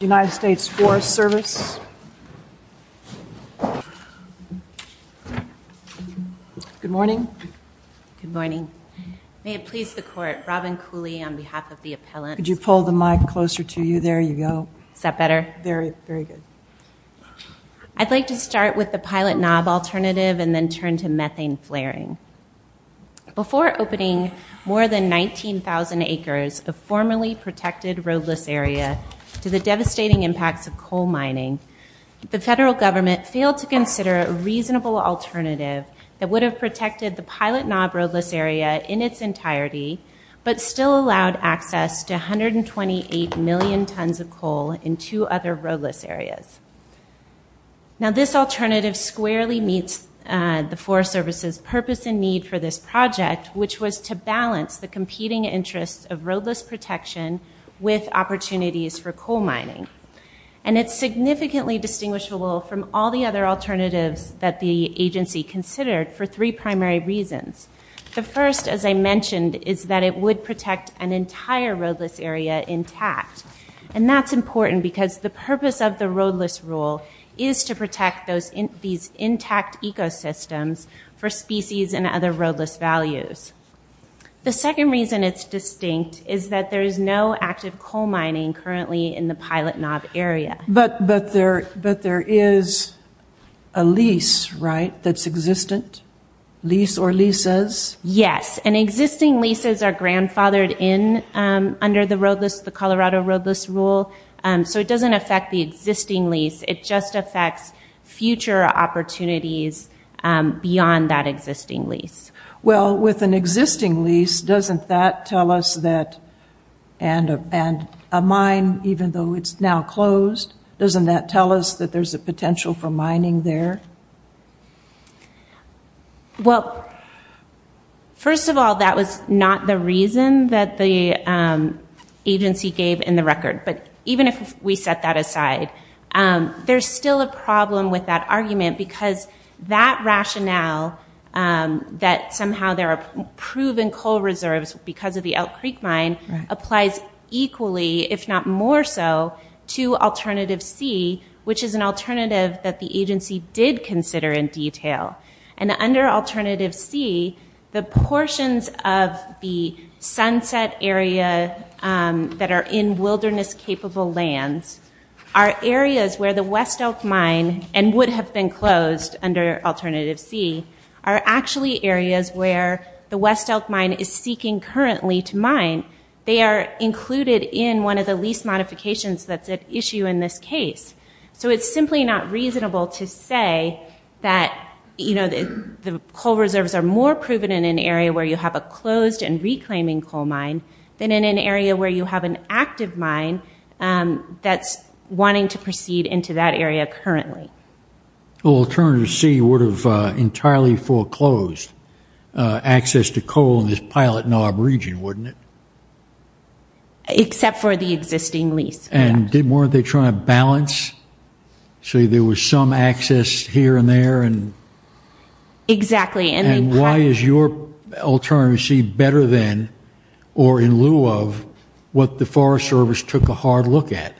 Good morning. May it please the court, Robin Cooley on behalf of the appellant, I'd like to start with the pilot knob alternative and then turn to methane flaring. Before opening more than 19,000 acres of formerly protected roadless area to the devastating impacts of coal mining, the federal government failed to consider a reasonable alternative that would have protected the pilot knob roadless area in its entirety, but still allowed access to 128 million tons of coal in two other roadless areas. Now this alternative squarely meets the Forest Service's purpose and need for this project, which was to balance the competing interests of roadless protection with opportunities for coal mining. And it's significantly distinguishable from all the other alternatives that the agency considered for three primary reasons. The first, as I mentioned, is that it would protect an entire roadless area intact. And that's for species and other roadless values. The second reason it's distinct is that there is no active coal mining currently in the pilot knob area. But there is a lease, right, that's existent? Lease or leases? Yes. And existing leases are grandfathered in under the Colorado roadless rule. So it doesn't affect the existing lease. It just affects future opportunities beyond that existing lease. Well, with an existing lease, doesn't that tell us that, and a mine, even though it's now closed, doesn't that tell us that there's a potential for mining there? Well, first of all, that was not the reason that the agency gave in the record. But even if we set that aside, there's still a problem with that argument because that rationale that somehow there are proven coal reserves because of the Elk Creek mine applies equally, if not more so, to alternative C, which is an alternative that the agency did consider in detail. And under alternative C, the portions of the sunset area that are in wilderness-capable lands are areas where the West Elk mine, and would have been closed under alternative C, are actually areas where the West Elk mine is seeking currently to mine. They are included in one of the lease modifications that's at issue in this case. So it's simply not reasonable to say that, you know, the coal reserves are more proven in an area where you have a closed and reclaiming coal mine than in an area where you have an active mine that's wanting to proceed into that area currently. Well, alternative C would have entirely foreclosed access to coal in this Pilot Knob region, wouldn't it? Except for the existing lease. And weren't they trying to balance? So there was some access here and there. Exactly. And why is your alternative C better than or in lieu of what the Forest Service took a hard look at?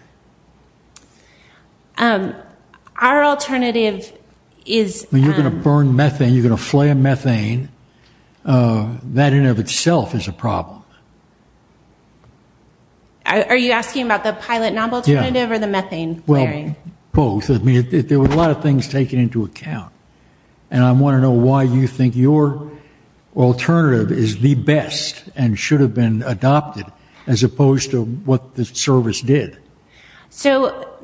Our alternative is... You're going to burn methane, you're going to flare methane. That in and of itself is a problem. Are you asking about the Pilot Knob alternative or the methane flaring? Well, both. I mean, there are a lot of things taken into account. And I want to know why you think your alternative is the best and should have been adopted as opposed to what the service did. So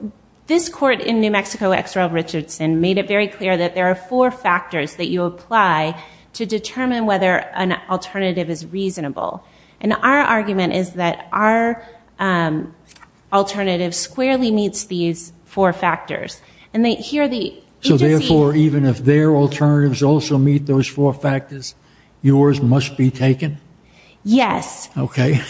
this court in New Mexico, X. Roy Richardson, made it very clear that there are four factors that you apply to determine whether an alternative is reasonable. And our argument is that our agency... So therefore, even if their alternatives also meet those four factors, yours must be taken? Yes. Okay.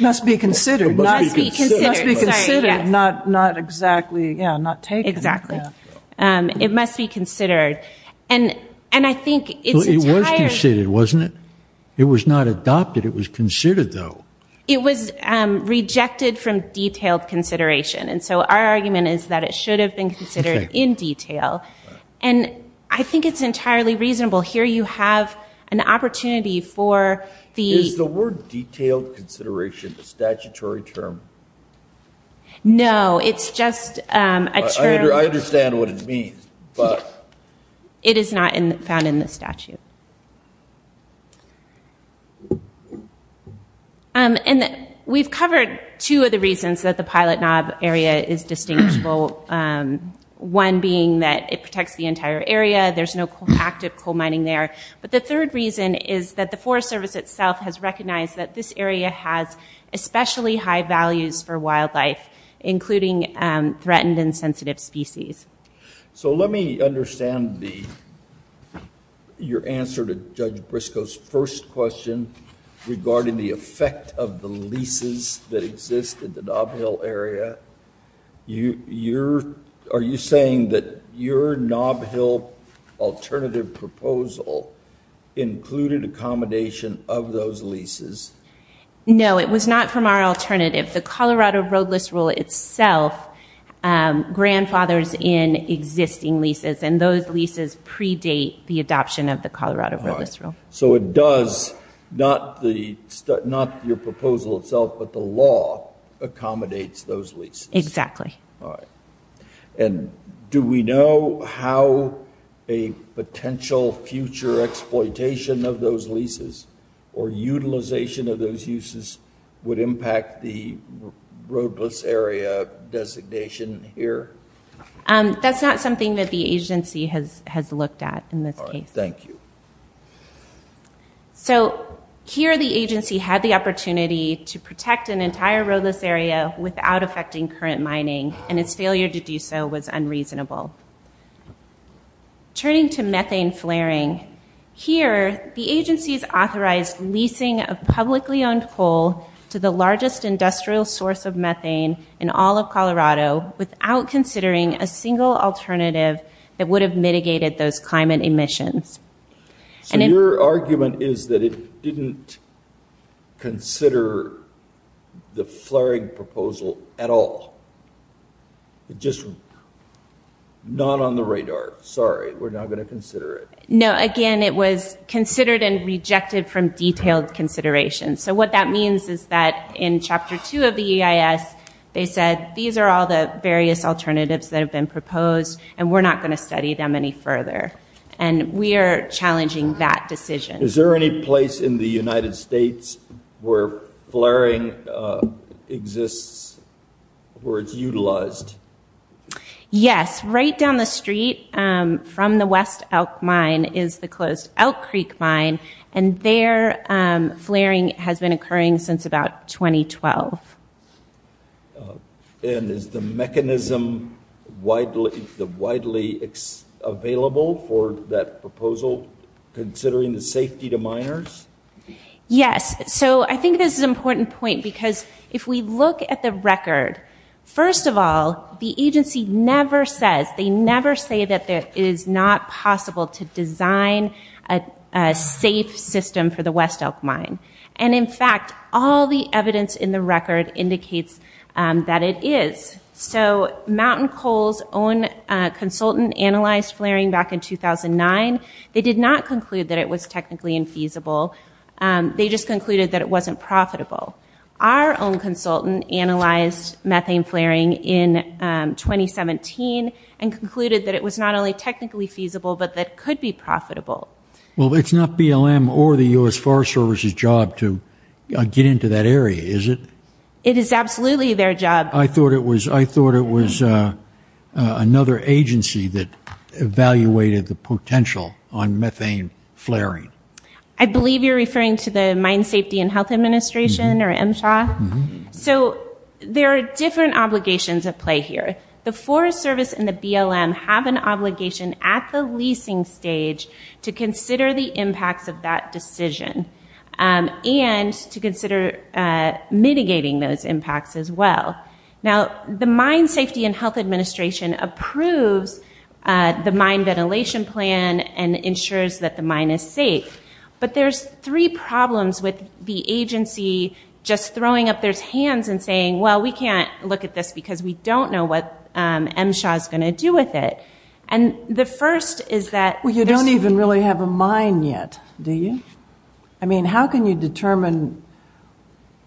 Must be considered. Must be considered. Not exactly, yeah, not taken. Exactly. It must be considered. And I think its entire... It was considered, wasn't it? It was not adopted. It was considered, though. It was rejected from detailed consideration. And so our argument is that it should have been considered in detail. And I think it's entirely reasonable. Here you have an opportunity for the... Is the word detailed consideration a statutory term? No, it's just a term... I understand what it means, but... It is not found in the statute. And we've covered two of the reasons that the pilot knob area is distinguishable. One being that it protects the entire area. There's no active coal mining there. But the third reason is that the Forest Service itself has recognized that this area has especially high values for wildlife, including threatened and sensitive species. So let me understand your answer to Judge Briscoe's first question regarding the effect of the leases that exist in the knob hill area. Are you saying that your knob hill alternative proposal included accommodation of those leases? No, it was not from our alternative. The Colorado those leases predate the adoption of the Colorado roadless rule. So it does... Not your proposal itself, but the law accommodates those leases. Exactly. All right. And do we know how a potential future exploitation of those leases or utilization of those uses would impact the roadless area designation here? That's not something that the agency has looked at in this case. All right. Thank you. So here the agency had the opportunity to protect an entire roadless area without affecting current mining, and its failure to do so was unreasonable. Turning to methane flaring, here the agency's authorized leasing of publicly owned coal to the largest industrial source of methane in all of Colorado without considering a single alternative that would have mitigated those climate emissions. So your argument is that it didn't consider the flaring proposal at all? It just... Not on the radar. Sorry, we're not going to consider it. No, again, it was considered and rejected from detailed consideration. So what that means is that in chapter two of the EIS, they said, these are all the various alternatives that have been proposed, and we're not going to study them any further. And we are challenging that decision. Is there any place in the United States where flaring exists, where it's utilized? Yes. Right down the street from the West Elk Mine is the closed Elk Creek Mine, and their flaring has been occurring since about 2012. And is the mechanism widely available for that proposal, considering the safety to miners? Yes. So I think this is an important point, because if we look at the record, first of all, the agency never says, they never say that it is not possible to design a safe system for the West Elk Mine. And in fact, all the evidence in the record indicates that it is. So Mountain Coal's own consultant analyzed flaring back in 2009. They did not conclude that it was technically infeasible. They just concluded that it wasn't profitable. Our own consultant analyzed methane flaring in 2017 and concluded that it was not only technically feasible, but that it could be profitable. Well, it's not BLM or the U.S. Forest Service's job to get into that area, is it? It is absolutely their job. I thought it was another agency that evaluated the potential on methane flaring. I believe you're referring to the Mine Safety and Health Administration, or MSHA. So there are different obligations at play here. The Forest Service and the BLM have an obligation at the leasing stage to consider the impacts of that decision and to consider mitigating those impacts as well. Now, the Mine Safety and Health Administration approves the mine ventilation plan and ensures that the mine is safe. But there's three problems with the agency just throwing up their hands and saying, well, we can't look at this because we don't know what MSHA is going to do with it. And the first is that... Well, you don't even really have a mine yet, do you? I mean, how can you determine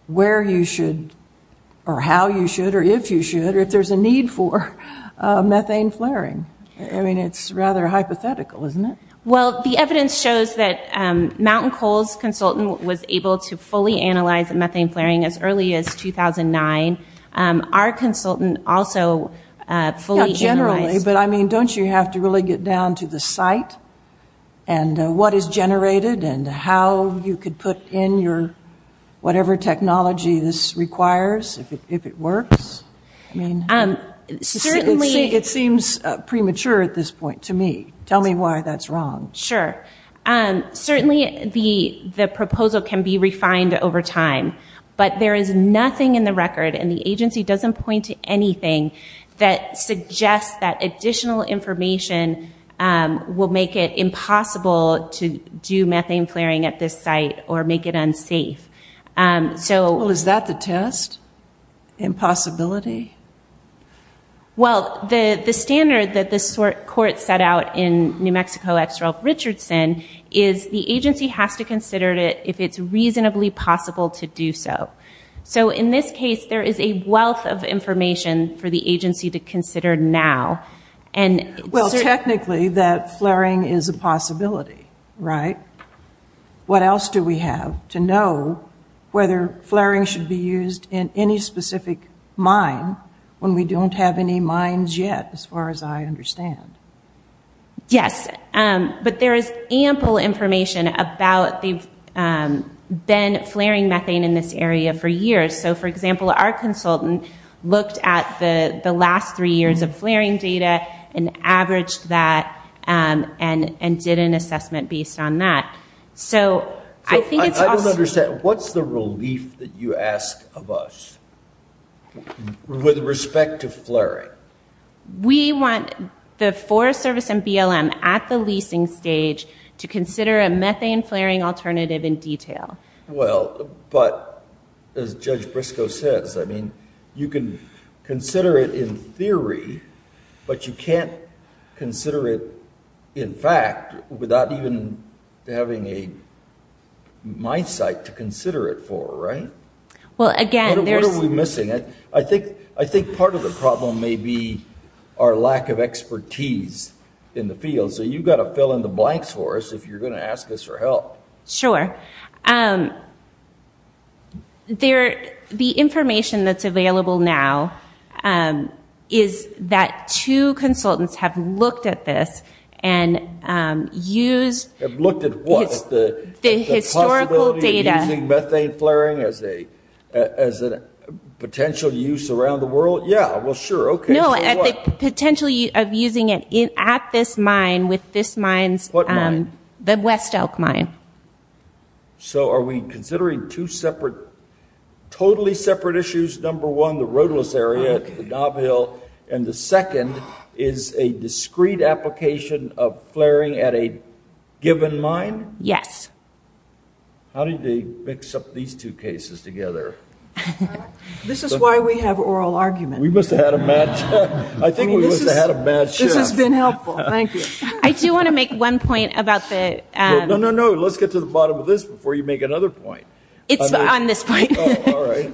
where you should, or how you should, or if you should, or if there's a need for methane flaring? I mean, it's rather hypothetical, isn't it? Well, the evidence shows that Mountain Coals' consultant was able to fully analyze methane flaring as early as 2009. Our consultant also fully analyzed... Yeah, generally, but I mean, don't you have to really get down to the site and what is generated and how you could put in your, whatever technology this requires, if it works? I mean... Certainly... It seems premature at this point to me. Tell me why that's wrong. Sure. Certainly, the proposal can be refined over time, but there is nothing in the record, and the agency doesn't point to anything that suggests that additional information will make it impossible to do methane flaring at this site or make it unsafe. So... Well, is that the test? Impossibility? Well, the standard that this court set out in New Mexico X Ralph Richardson is the agency has to consider it if it's reasonably possible to do so. So, in this case, there is a wealth of information for the agency to consider now, and... Well, technically, that flaring is a possibility, right? What else do we have to know whether flaring should be used in any specific mine when we don't have any mines yet, as far as I understand? Yes, but there is ample information about... They've been flaring methane in this area for years. So, for example, our consultant looked at the last three years of flaring data and averaged that and did an assessment based on that. So, I think it's... I don't understand. What's the relief that you ask of us with respect to flaring? We want the Forest Service and BLM at the leasing stage to consider a methane flaring alternative in detail. Well, but as Judge Briscoe says, I mean, you can consider it in theory, but you can't consider it in fact without even having a mindset to consider it for, right? Well, again, there's... What are we missing? I think part of the problem may be our lack of expertise in the field. So, you've got to fill in the blanks for us if you're going to ask us for help. Sure. The information that's available now is that two consultants have looked at this and used... Have looked at what? The historical data. The possibility of using methane flaring as a potential use around the world? Yeah. Well, sure. Okay. No. Potentially of using it at this mine with this mine's... What mine? The West Elk Mine. So, are we considering two separate, totally separate issues? Number one, the roadless area at the Dove Hill, and the second is a discrete application of flaring at a given mine? Yes. How did they mix up these two cases together? This is why we have oral argument. We must have had a bad... I think we must have had a bad chance. This has been helpful. Thank you. I do want to make one point about the... No, no, no. Let's get to the bottom of this before you make another point. It's on this point. Oh, all right.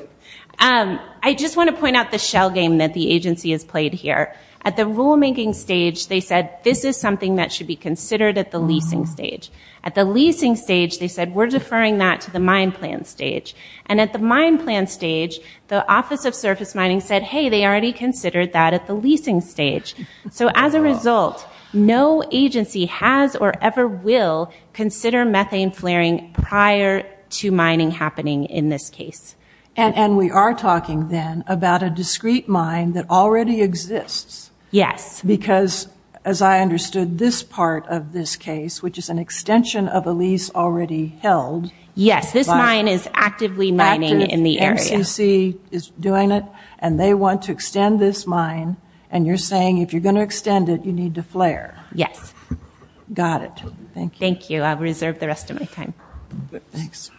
I just want to point out the shell game that the agency has played here. At the rulemaking stage, they said, this is something that should be considered at the leasing stage. At the leasing stage, they said, we're deferring that to the mine plan stage. And at the mine plan stage, the Office of Surface Mining said, hey, they already considered that at the leasing stage. So, as a result, no agency has or ever will consider methane flaring prior to mining happening in this case. And we are talking then about a discrete mine that already exists. Yes. Because, as I understood, this part of this case, which is an extension of a lease already held... Yes, this mine is actively mining in the area. MCC is doing it. And they want to extend this mine. And you're saying, if you're going to extend it, you need to flare. Yes. Got it. Thank you. Thank you. I'll reserve the rest of my time. Thanks.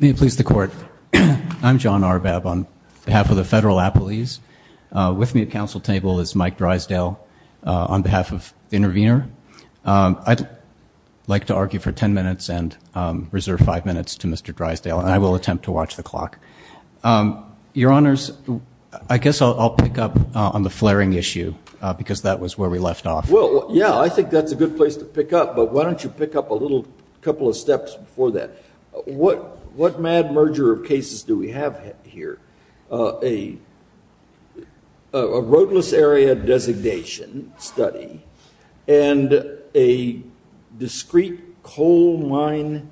May it please the Court. I'm John Arbab on behalf of the Federal Appellees. With me at council table is Mike Drysdale on behalf of Intervenor. I'd like to argue for 10 minutes and reserve five minutes to Mr. Drysdale. And I will attempt to watch the clock. Your Honors, I guess I'll pick up on the flaring issue, because that was where we left off. Well, yeah, I think that's a good place to pick up. But why don't you pick up a little couple of steps before that. What mad merger of cases do we have here? A roadless area designation study and a discrete coal mine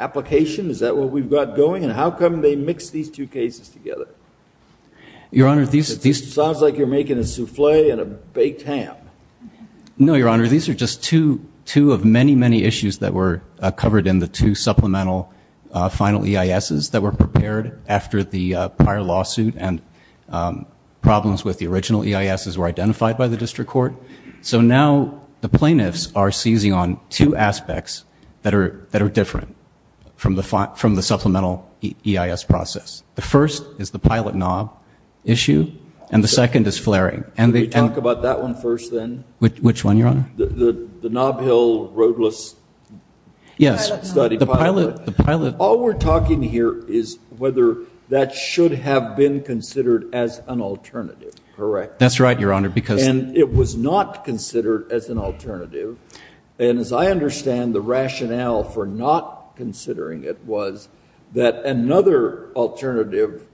application. Is that what we've got going? And how come they mix these two cases together? Your Honor, these... Sounds like you're making a souffle and a baked ham. No, Your Honor. These are just two of many, many issues that were covered in the two supplemental final EISs that were prepared after the prior lawsuit and problems with the original EISs were identified by the District Court. So now the plaintiffs are seizing on two aspects that are different from the supplemental EIS process. The first is the pilot knob issue, and the second is flaring. Can we talk about that one first, then? Which one, Your Honor? The knob hill roadless pilot study. Yes, the pilot. All we're talking here is whether that should have been considered as an alternative, correct? That's right, Your Honor, because... And it was not considered as an alternative. And as I understand, the rationale for not considering it was that another alternative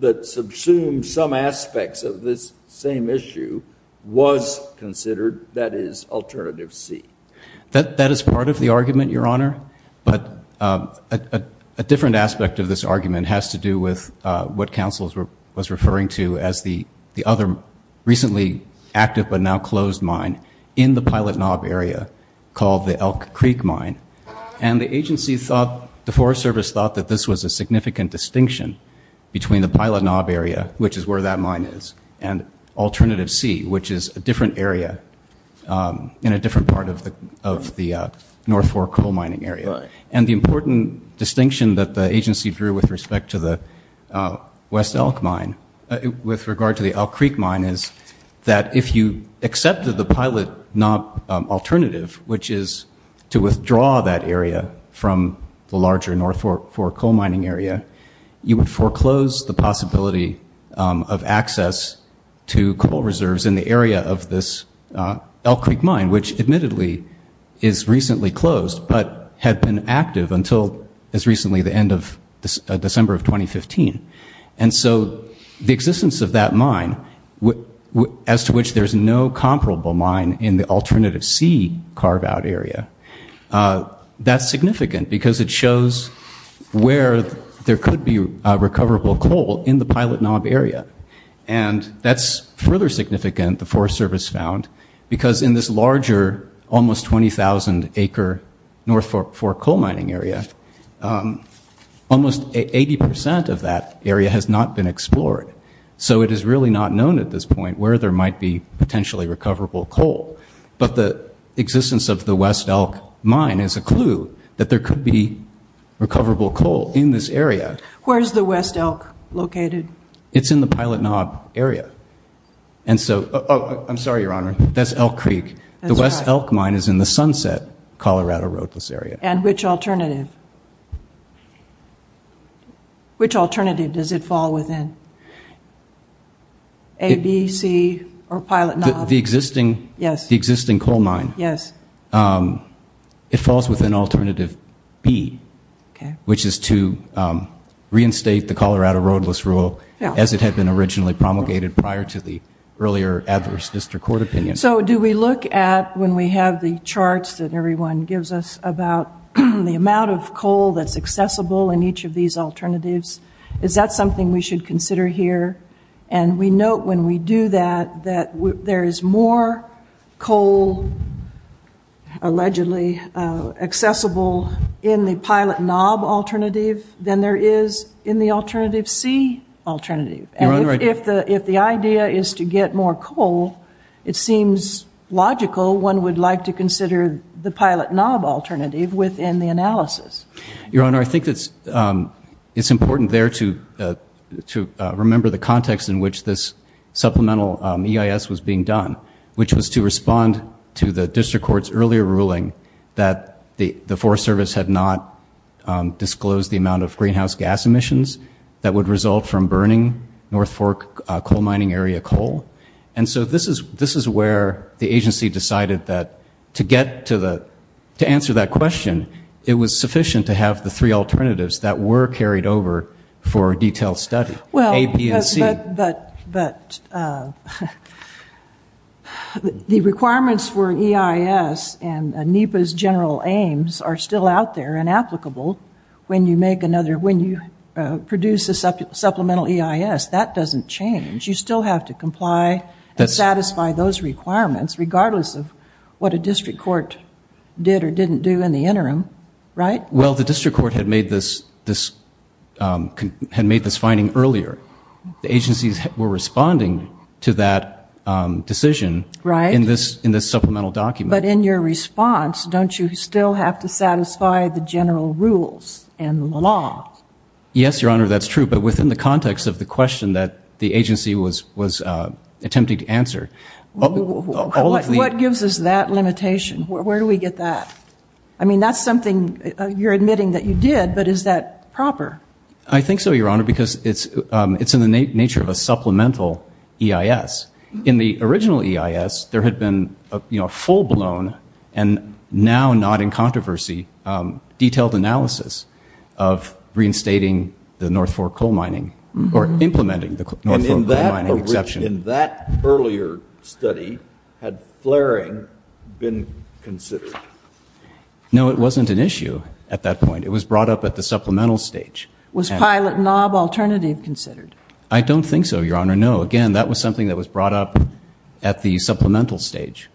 that subsumed some aspects of this same issue was considered. That is alternative C. That is part of the argument, Your Honor, but a different aspect of this argument has to do with what counsel was referring to as the other recently active but now closed mine in the pilot knob area called the Elk Creek Mine. And the agency thought, the Forest Service thought that this was a significant distinction between the pilot knob area, which is where that mine is, and alternative C, which is a different area in a different part of the North Fork coal mining area. And the important distinction that the agency drew with respect to the West Elk Mine, with regard to the Elk Creek Mine, is that if you accepted the pilot knob alternative, which is to withdraw that area from the larger North Fork coal mining area, you would foreclose the possibility of access to coal reserves in the area of this Elk Creek Mine, which admittedly is recently closed but had been active until as recently the end of December of 2015. And so the existence of that mine, as to which there's no comparable mine in the alternative C carve-out area, that's significant because it shows where there could be recoverable coal in the pilot knob area. And that's further significant, the Forest Service found, because in this larger, almost 20,000 acre North Fork coal mining area, almost 80% of that area has not been explored. So it is really not known at this point where there might be potentially recoverable coal. But existence of the West Elk Mine is a clue that there could be recoverable coal in this area. Where's the West Elk located? It's in the pilot knob area. And so, oh, I'm sorry, Your Honor, that's Elk Creek. The West Elk Mine is in the Sunset Colorado roadless area. And which alternative? Which alternative does it fall within? A, B, C, or pilot knob? The existing coal mine. Yes. It falls within alternative B, which is to reinstate the Colorado roadless rule as it had been originally promulgated prior to the earlier adverse district court opinion. So do we look at, when we have the charts that everyone gives us about the amount of coal that's in these alternatives, is that something we should consider here? And we note when we do that, that there is more coal allegedly accessible in the pilot knob alternative than there is in the alternative C alternative. And if the idea is to get more coal, it seems logical one would like to consider the pilot knob alternative within the analysis. Your Honor, I think it's important there to remember the context in which this supplemental EIS was being done, which was to respond to the district court's earlier ruling that the Forest Service had not disclosed the amount of greenhouse gas emissions that would result from burning North Fork coal mining area coal. And so this is where the agency decided that to answer that question, it was sufficient to have the three alternatives that were carried over for a detailed study, A, B, and C. But the requirements for EIS and NEPA's general aims are still out there and applicable when you produce a supplemental EIS. That doesn't change. You still have to comply and satisfy those requirements regardless of what a district court did or didn't do in the interim, right? Well, the district court had made this finding earlier. The agencies were responding to that decision in this supplemental document. But in your response, don't you still have to satisfy the general rules and the law? Yes, Your Honor, that's true. But within the context of the question that the agency was attempting to answer... What gives us that limitation? Where do we get that? I mean, that's something you're admitting that you did, but is that proper? I think so, Your Honor, because it's in the nature of a supplemental EIS. In the original EIS, there had been a full-blown, and now not in controversy, detailed analysis of reinstating the North Fork coal mining, or implementing the North Fork mining exception. And in that earlier study, had flaring been considered? No, it wasn't an issue at that point. It was brought up at the supplemental stage. Was pilot knob alternative considered? I don't think so, Your Honor. No, again, that was something that was brought up at the supplemental stage.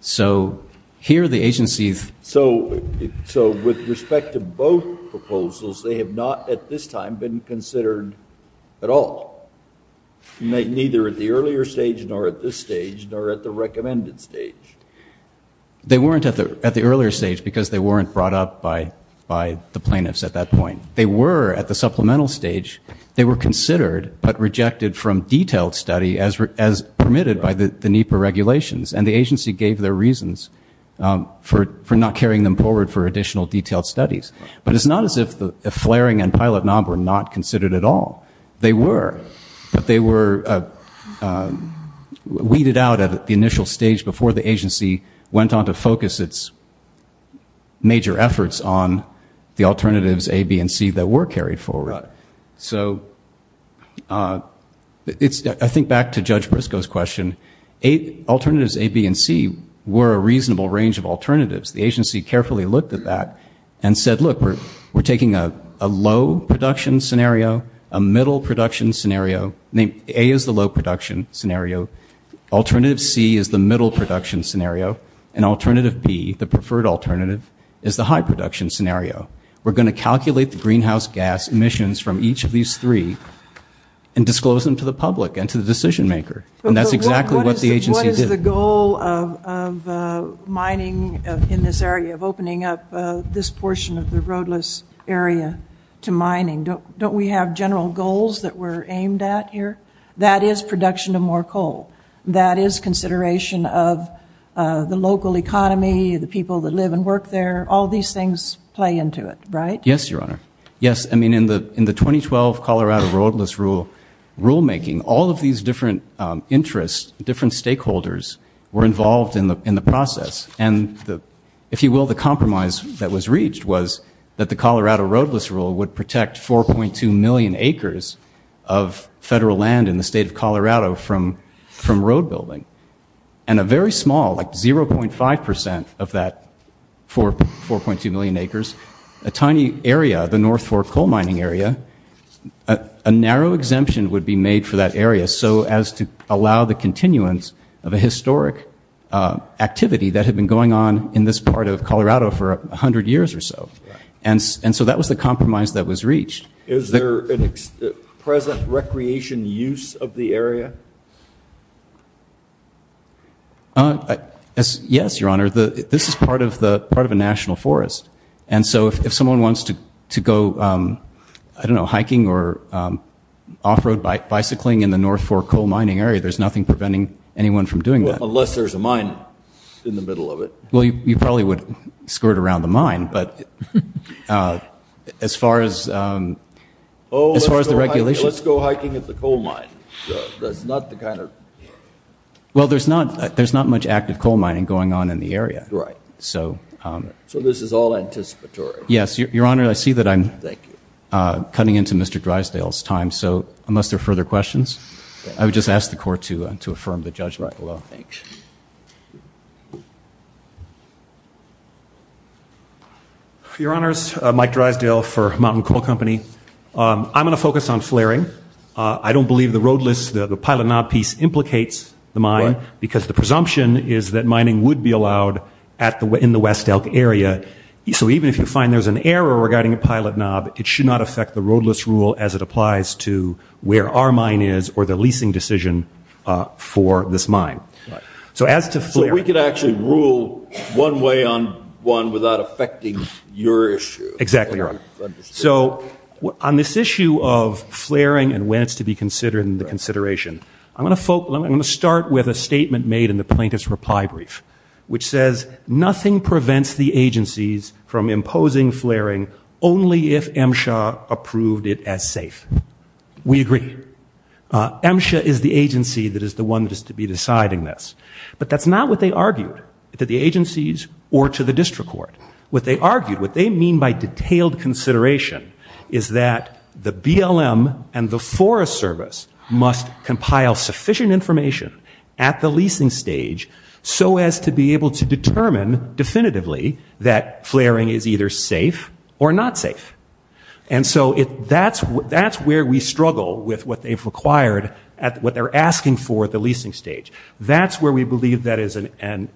So here the agency's... So with respect to both proposals, they have not, at this time, been considered at all? Neither at the earlier stage, nor at this stage, nor at the recommended stage? They weren't at the earlier stage, because they weren't brought up by the plaintiffs at that point. They were at the supplemental stage. They were considered, but rejected from detailed study as permitted by the NEPA regulations. And the agency gave their reasons for not carrying them forward for additional detailed studies. But it's not as if the flaring and pilot knob were not considered at all. They were, but they were weeded out at the initial stage before the agency went on to focus its major efforts on the alternatives A, B, and C that were carried forward. So I think back to Judge Briscoe's question. Alternatives A, B, and C were a reasonable range of alternatives. The agency carefully looked at that and said, look, we're taking a low production scenario, a middle production scenario. A is the low production scenario. Alternative C is the middle production scenario. And alternative B, the preferred alternative, is the high production scenario. We're going to calculate the greenhouse gas emissions from each of these three and disclose them to the public and to the decision maker. And that's exactly what the agency did. What is the goal of mining in this area, of opening up this portion of the roadless area to mining? Don't we have general goals that we're aimed at here? That is production of more coal. That is consideration of the local economy, the people that live and work there. All these things play into it, right? Yes, Your Honor. Yes. I mean, in the 2012 Colorado roadless rule rulemaking, all of these different interests, different stakeholders were involved in the process. And if you will, the compromise that was reached was that the Colorado roadless rule would protect 4.2 million acres of federal land in the state of Colorado from road building. And a very small, like 0.5 percent of that 4.2 million acres, a tiny area, the North Fork coal mining area, a narrow exemption would be made for that area so as to allow the continuance of a historic activity that had been going on in this part of Colorado for 100 years or so. And so that was the compromise that was reached. Is there a present recreation use of the area? Yes, Your Honor. This is part of a national forest. And so if someone wants to go, I don't know, hiking or off-road bicycling in the North Fork coal mining area, there's nothing preventing anyone from doing that. Unless there's a mine in the middle of it. Well, you probably would skirt around the mine, but as far as the regulations. Let's go hiking at the coal mine. Well, there's not much active coal mining going on in the area. So this is all anticipatory. Yes, Your Honor, I see that I'm cutting into Mr. Drysdale's time. So unless there are further questions. Your Honors, Mike Drysdale for Mountain Coal Company. I'm going to focus on flaring. I don't believe the roadless, the pilot knob piece implicates the mine because the presumption is that mining would be allowed in the West Elk area. So even if you find there's an error regarding a pilot knob, it should not affect the roadless rule as it applies to where our mine is or the leasing decision for this mine. So as to flaring. So we could actually rule one way on one without affecting your issue. Exactly, Your Honor. So on this issue of flaring and when it's to be considered in the consideration, I'm going to start with a statement made in the plaintiff's reply brief, which says nothing prevents the agencies from imposing flaring only if MSHA approved it as safe. We agree. MSHA is the agency that is the one that is to be deciding this. But that's not what they argued to the agencies or to the district court. What they argued, what they mean by detailed consideration is that the BLM and the Forest Service must compile sufficient information at the leasing stage so as to be able to determine definitively that that's where we struggle with what they've required at what they're asking for at the leasing stage. That's where we believe that is an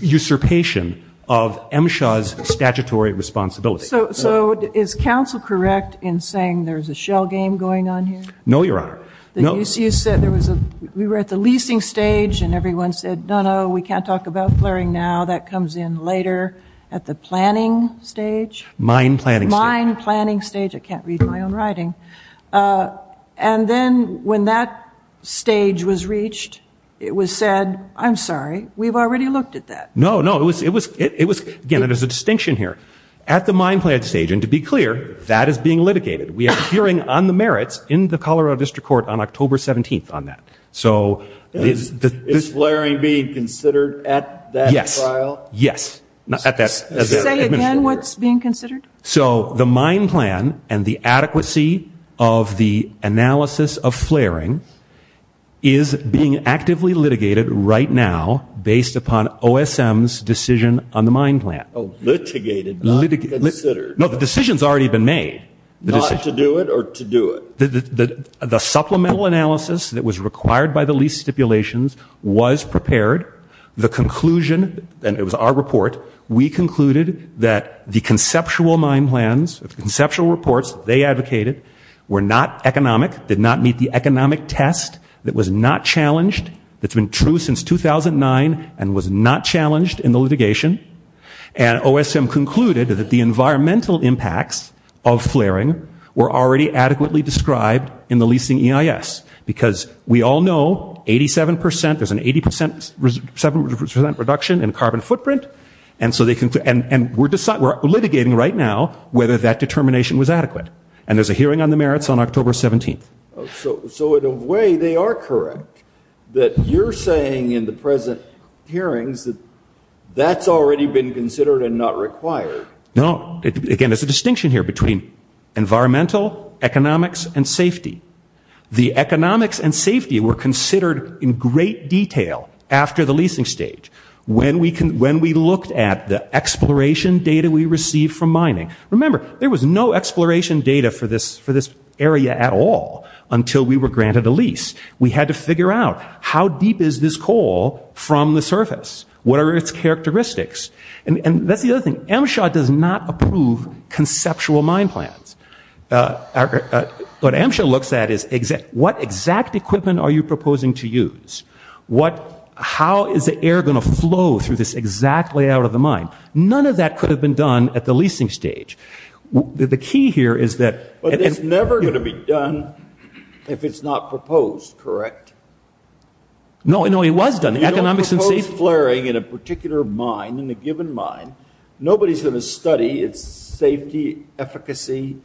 usurpation of MSHA's statutory responsibility. So is counsel correct in saying there's a shell game going on here? No, Your Honor. We were at the leasing stage and everyone said, no, no, we can't talk about flaring now. That comes in later at the planning stage. Mine planning stage. Mine planning stage. I can't read my own writing. And then when that stage was reached, it was said, I'm sorry, we've already looked at that. No, no. It was, again, there's a distinction here. At the mine plan stage, and to be clear, that is being litigated. We have a hearing on the merits in the Colorado District Court on October 17th on that. So is flaring being considered at that trial? Yes. Say again what's being considered? So the mine plan and the adequacy of the analysis of flaring is being actively litigated right now based upon OSM's decision on the mine plan. Litigated, not considered. No, the decision's already been made. Not to do it or to do it. The supplemental analysis that was required by the lease stipulations was prepared. The conclusion, and it was our report, we concluded that the conceptual mine plans, the conceptual reports they advocated were not economic, did not meet the economic test. It was not challenged. It's been true since 2009 and was not challenged in the litigation. And OSM concluded that the environmental impacts of flaring were already adequately described in the leasing EIS because we all know 87%, there's an 87% reduction in carbon footprint. And we're litigating right now whether that determination was adequate. And there's a hearing on the merits on October 17th. So in a way, they are correct that you're saying in the present hearings that that's already been considered and not required. No. Again, there's a distinction here between environmental, economics, and safety. The economics and safety were considered in great detail after the leasing stage when we looked at the exploration data we received from mining. Remember, there was no exploration data for this area at all until we were granted a lease. We had to figure out how deep is this coal from the surface? What are its characteristics? And that's the other thing. MSHA does not approve conceptual mine plans. What MSHA looks at is what exact equipment are you proposing to use? How is the air going to flow through this exact layout of the mine? None of that could have been done at the leasing stage. The key here is that- But it's never going to be done if it's not proposed, correct? No, it was done. Economics and safety- In a given mine, nobody's going to study its safety, efficacy,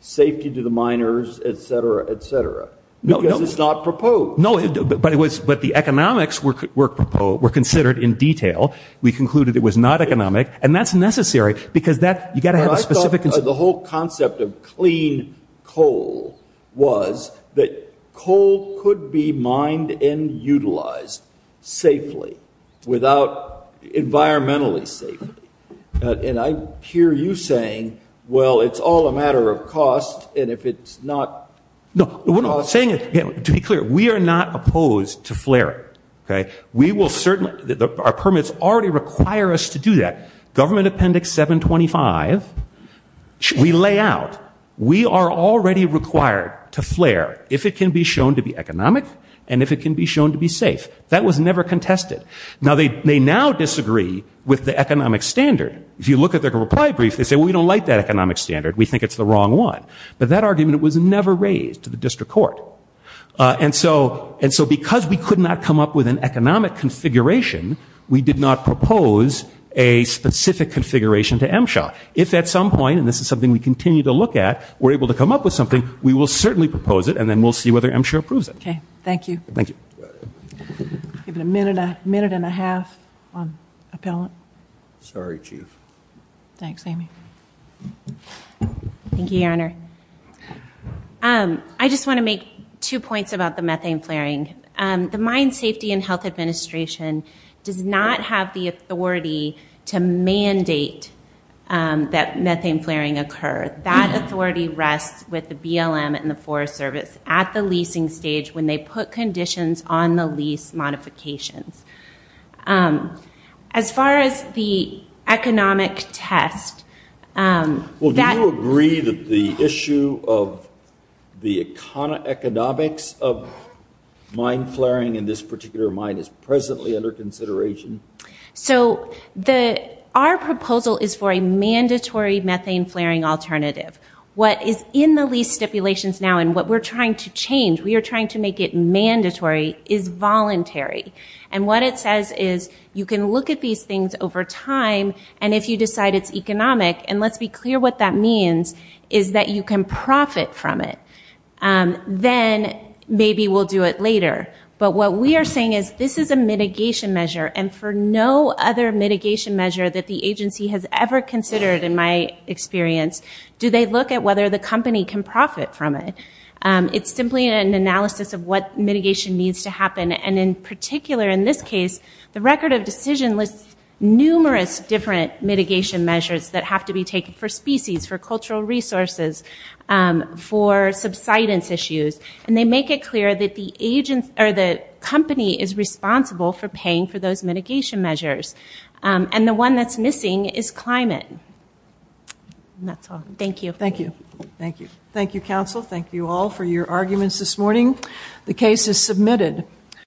safety to the miners, et cetera, et cetera. Because it's not proposed. No, but the economics were considered in detail. We concluded it was not economic. And that's necessary because you've got to have a specific- The whole concept of clean coal was that coal could be mined and utilized safely without environmentally safety. And I hear you saying, well, it's all a matter of cost. And if it's not- No, we're not saying it. To be clear, we are not opposed to flaring, okay? We will certainly- Our permits already require us to do that. Government Appendix 725, we lay out. We are already required to flare if it can be shown to be economic and if it can be shown to be safe. That was never contested. Now, they now disagree with the economic standard. If you look at their reply brief, they say, well, we don't like that economic standard. We think it's the wrong one. But that argument was never raised to the district court. And so because we could not come up with an economic configuration, we did not propose a specific configuration to MSHA. If at some point, and this is something we continue to look at, we're able to come up with something, we will certainly propose it and then we'll see whether MSHA approves it. Okay. Thank you. Thank you. Give it a minute, a minute and a half. Appellant? Sorry, Chief. Thanks, Amy. Thank you, Your Honor. I just want to make two points about the methane flaring. The Mine Safety and Health Administration does not have the authority to mandate that methane flaring occur. That authority rests with the BLM and the Forest Service at the leasing stage when they put conditions on the lease modifications. As far as the economic test... Well, do you agree that the issue of the economics of mine flaring in this particular mine is presently under consideration? So our proposal is for a mandatory methane flaring alternative. What is in the lease stipulations now and what we're trying to change, we are trying to make it mandatory, is voluntary. And what it says is you can look at these things over time and if you decide it's economic, and let's be clear what that means, is that you can profit from it. Then maybe we'll do it later. But what we are saying is this is a mitigation measure and for no other mitigation measure that the agency has ever considered in my experience, do they look at whether the company can profit from it? It's simply an analysis of what mitigation needs to happen and in particular in this case, the record of decision lists numerous different mitigation measures that have to be taken for species, for cultural resources, for subsidence issues, and they make it clear that the company is responsible for paying for those mitigation measures. And the one that's missing is climate. That's all. Thank you. Thank you. Thank you. Thank you, counsel. Thank you all for your arguments this morning. The case is submitted.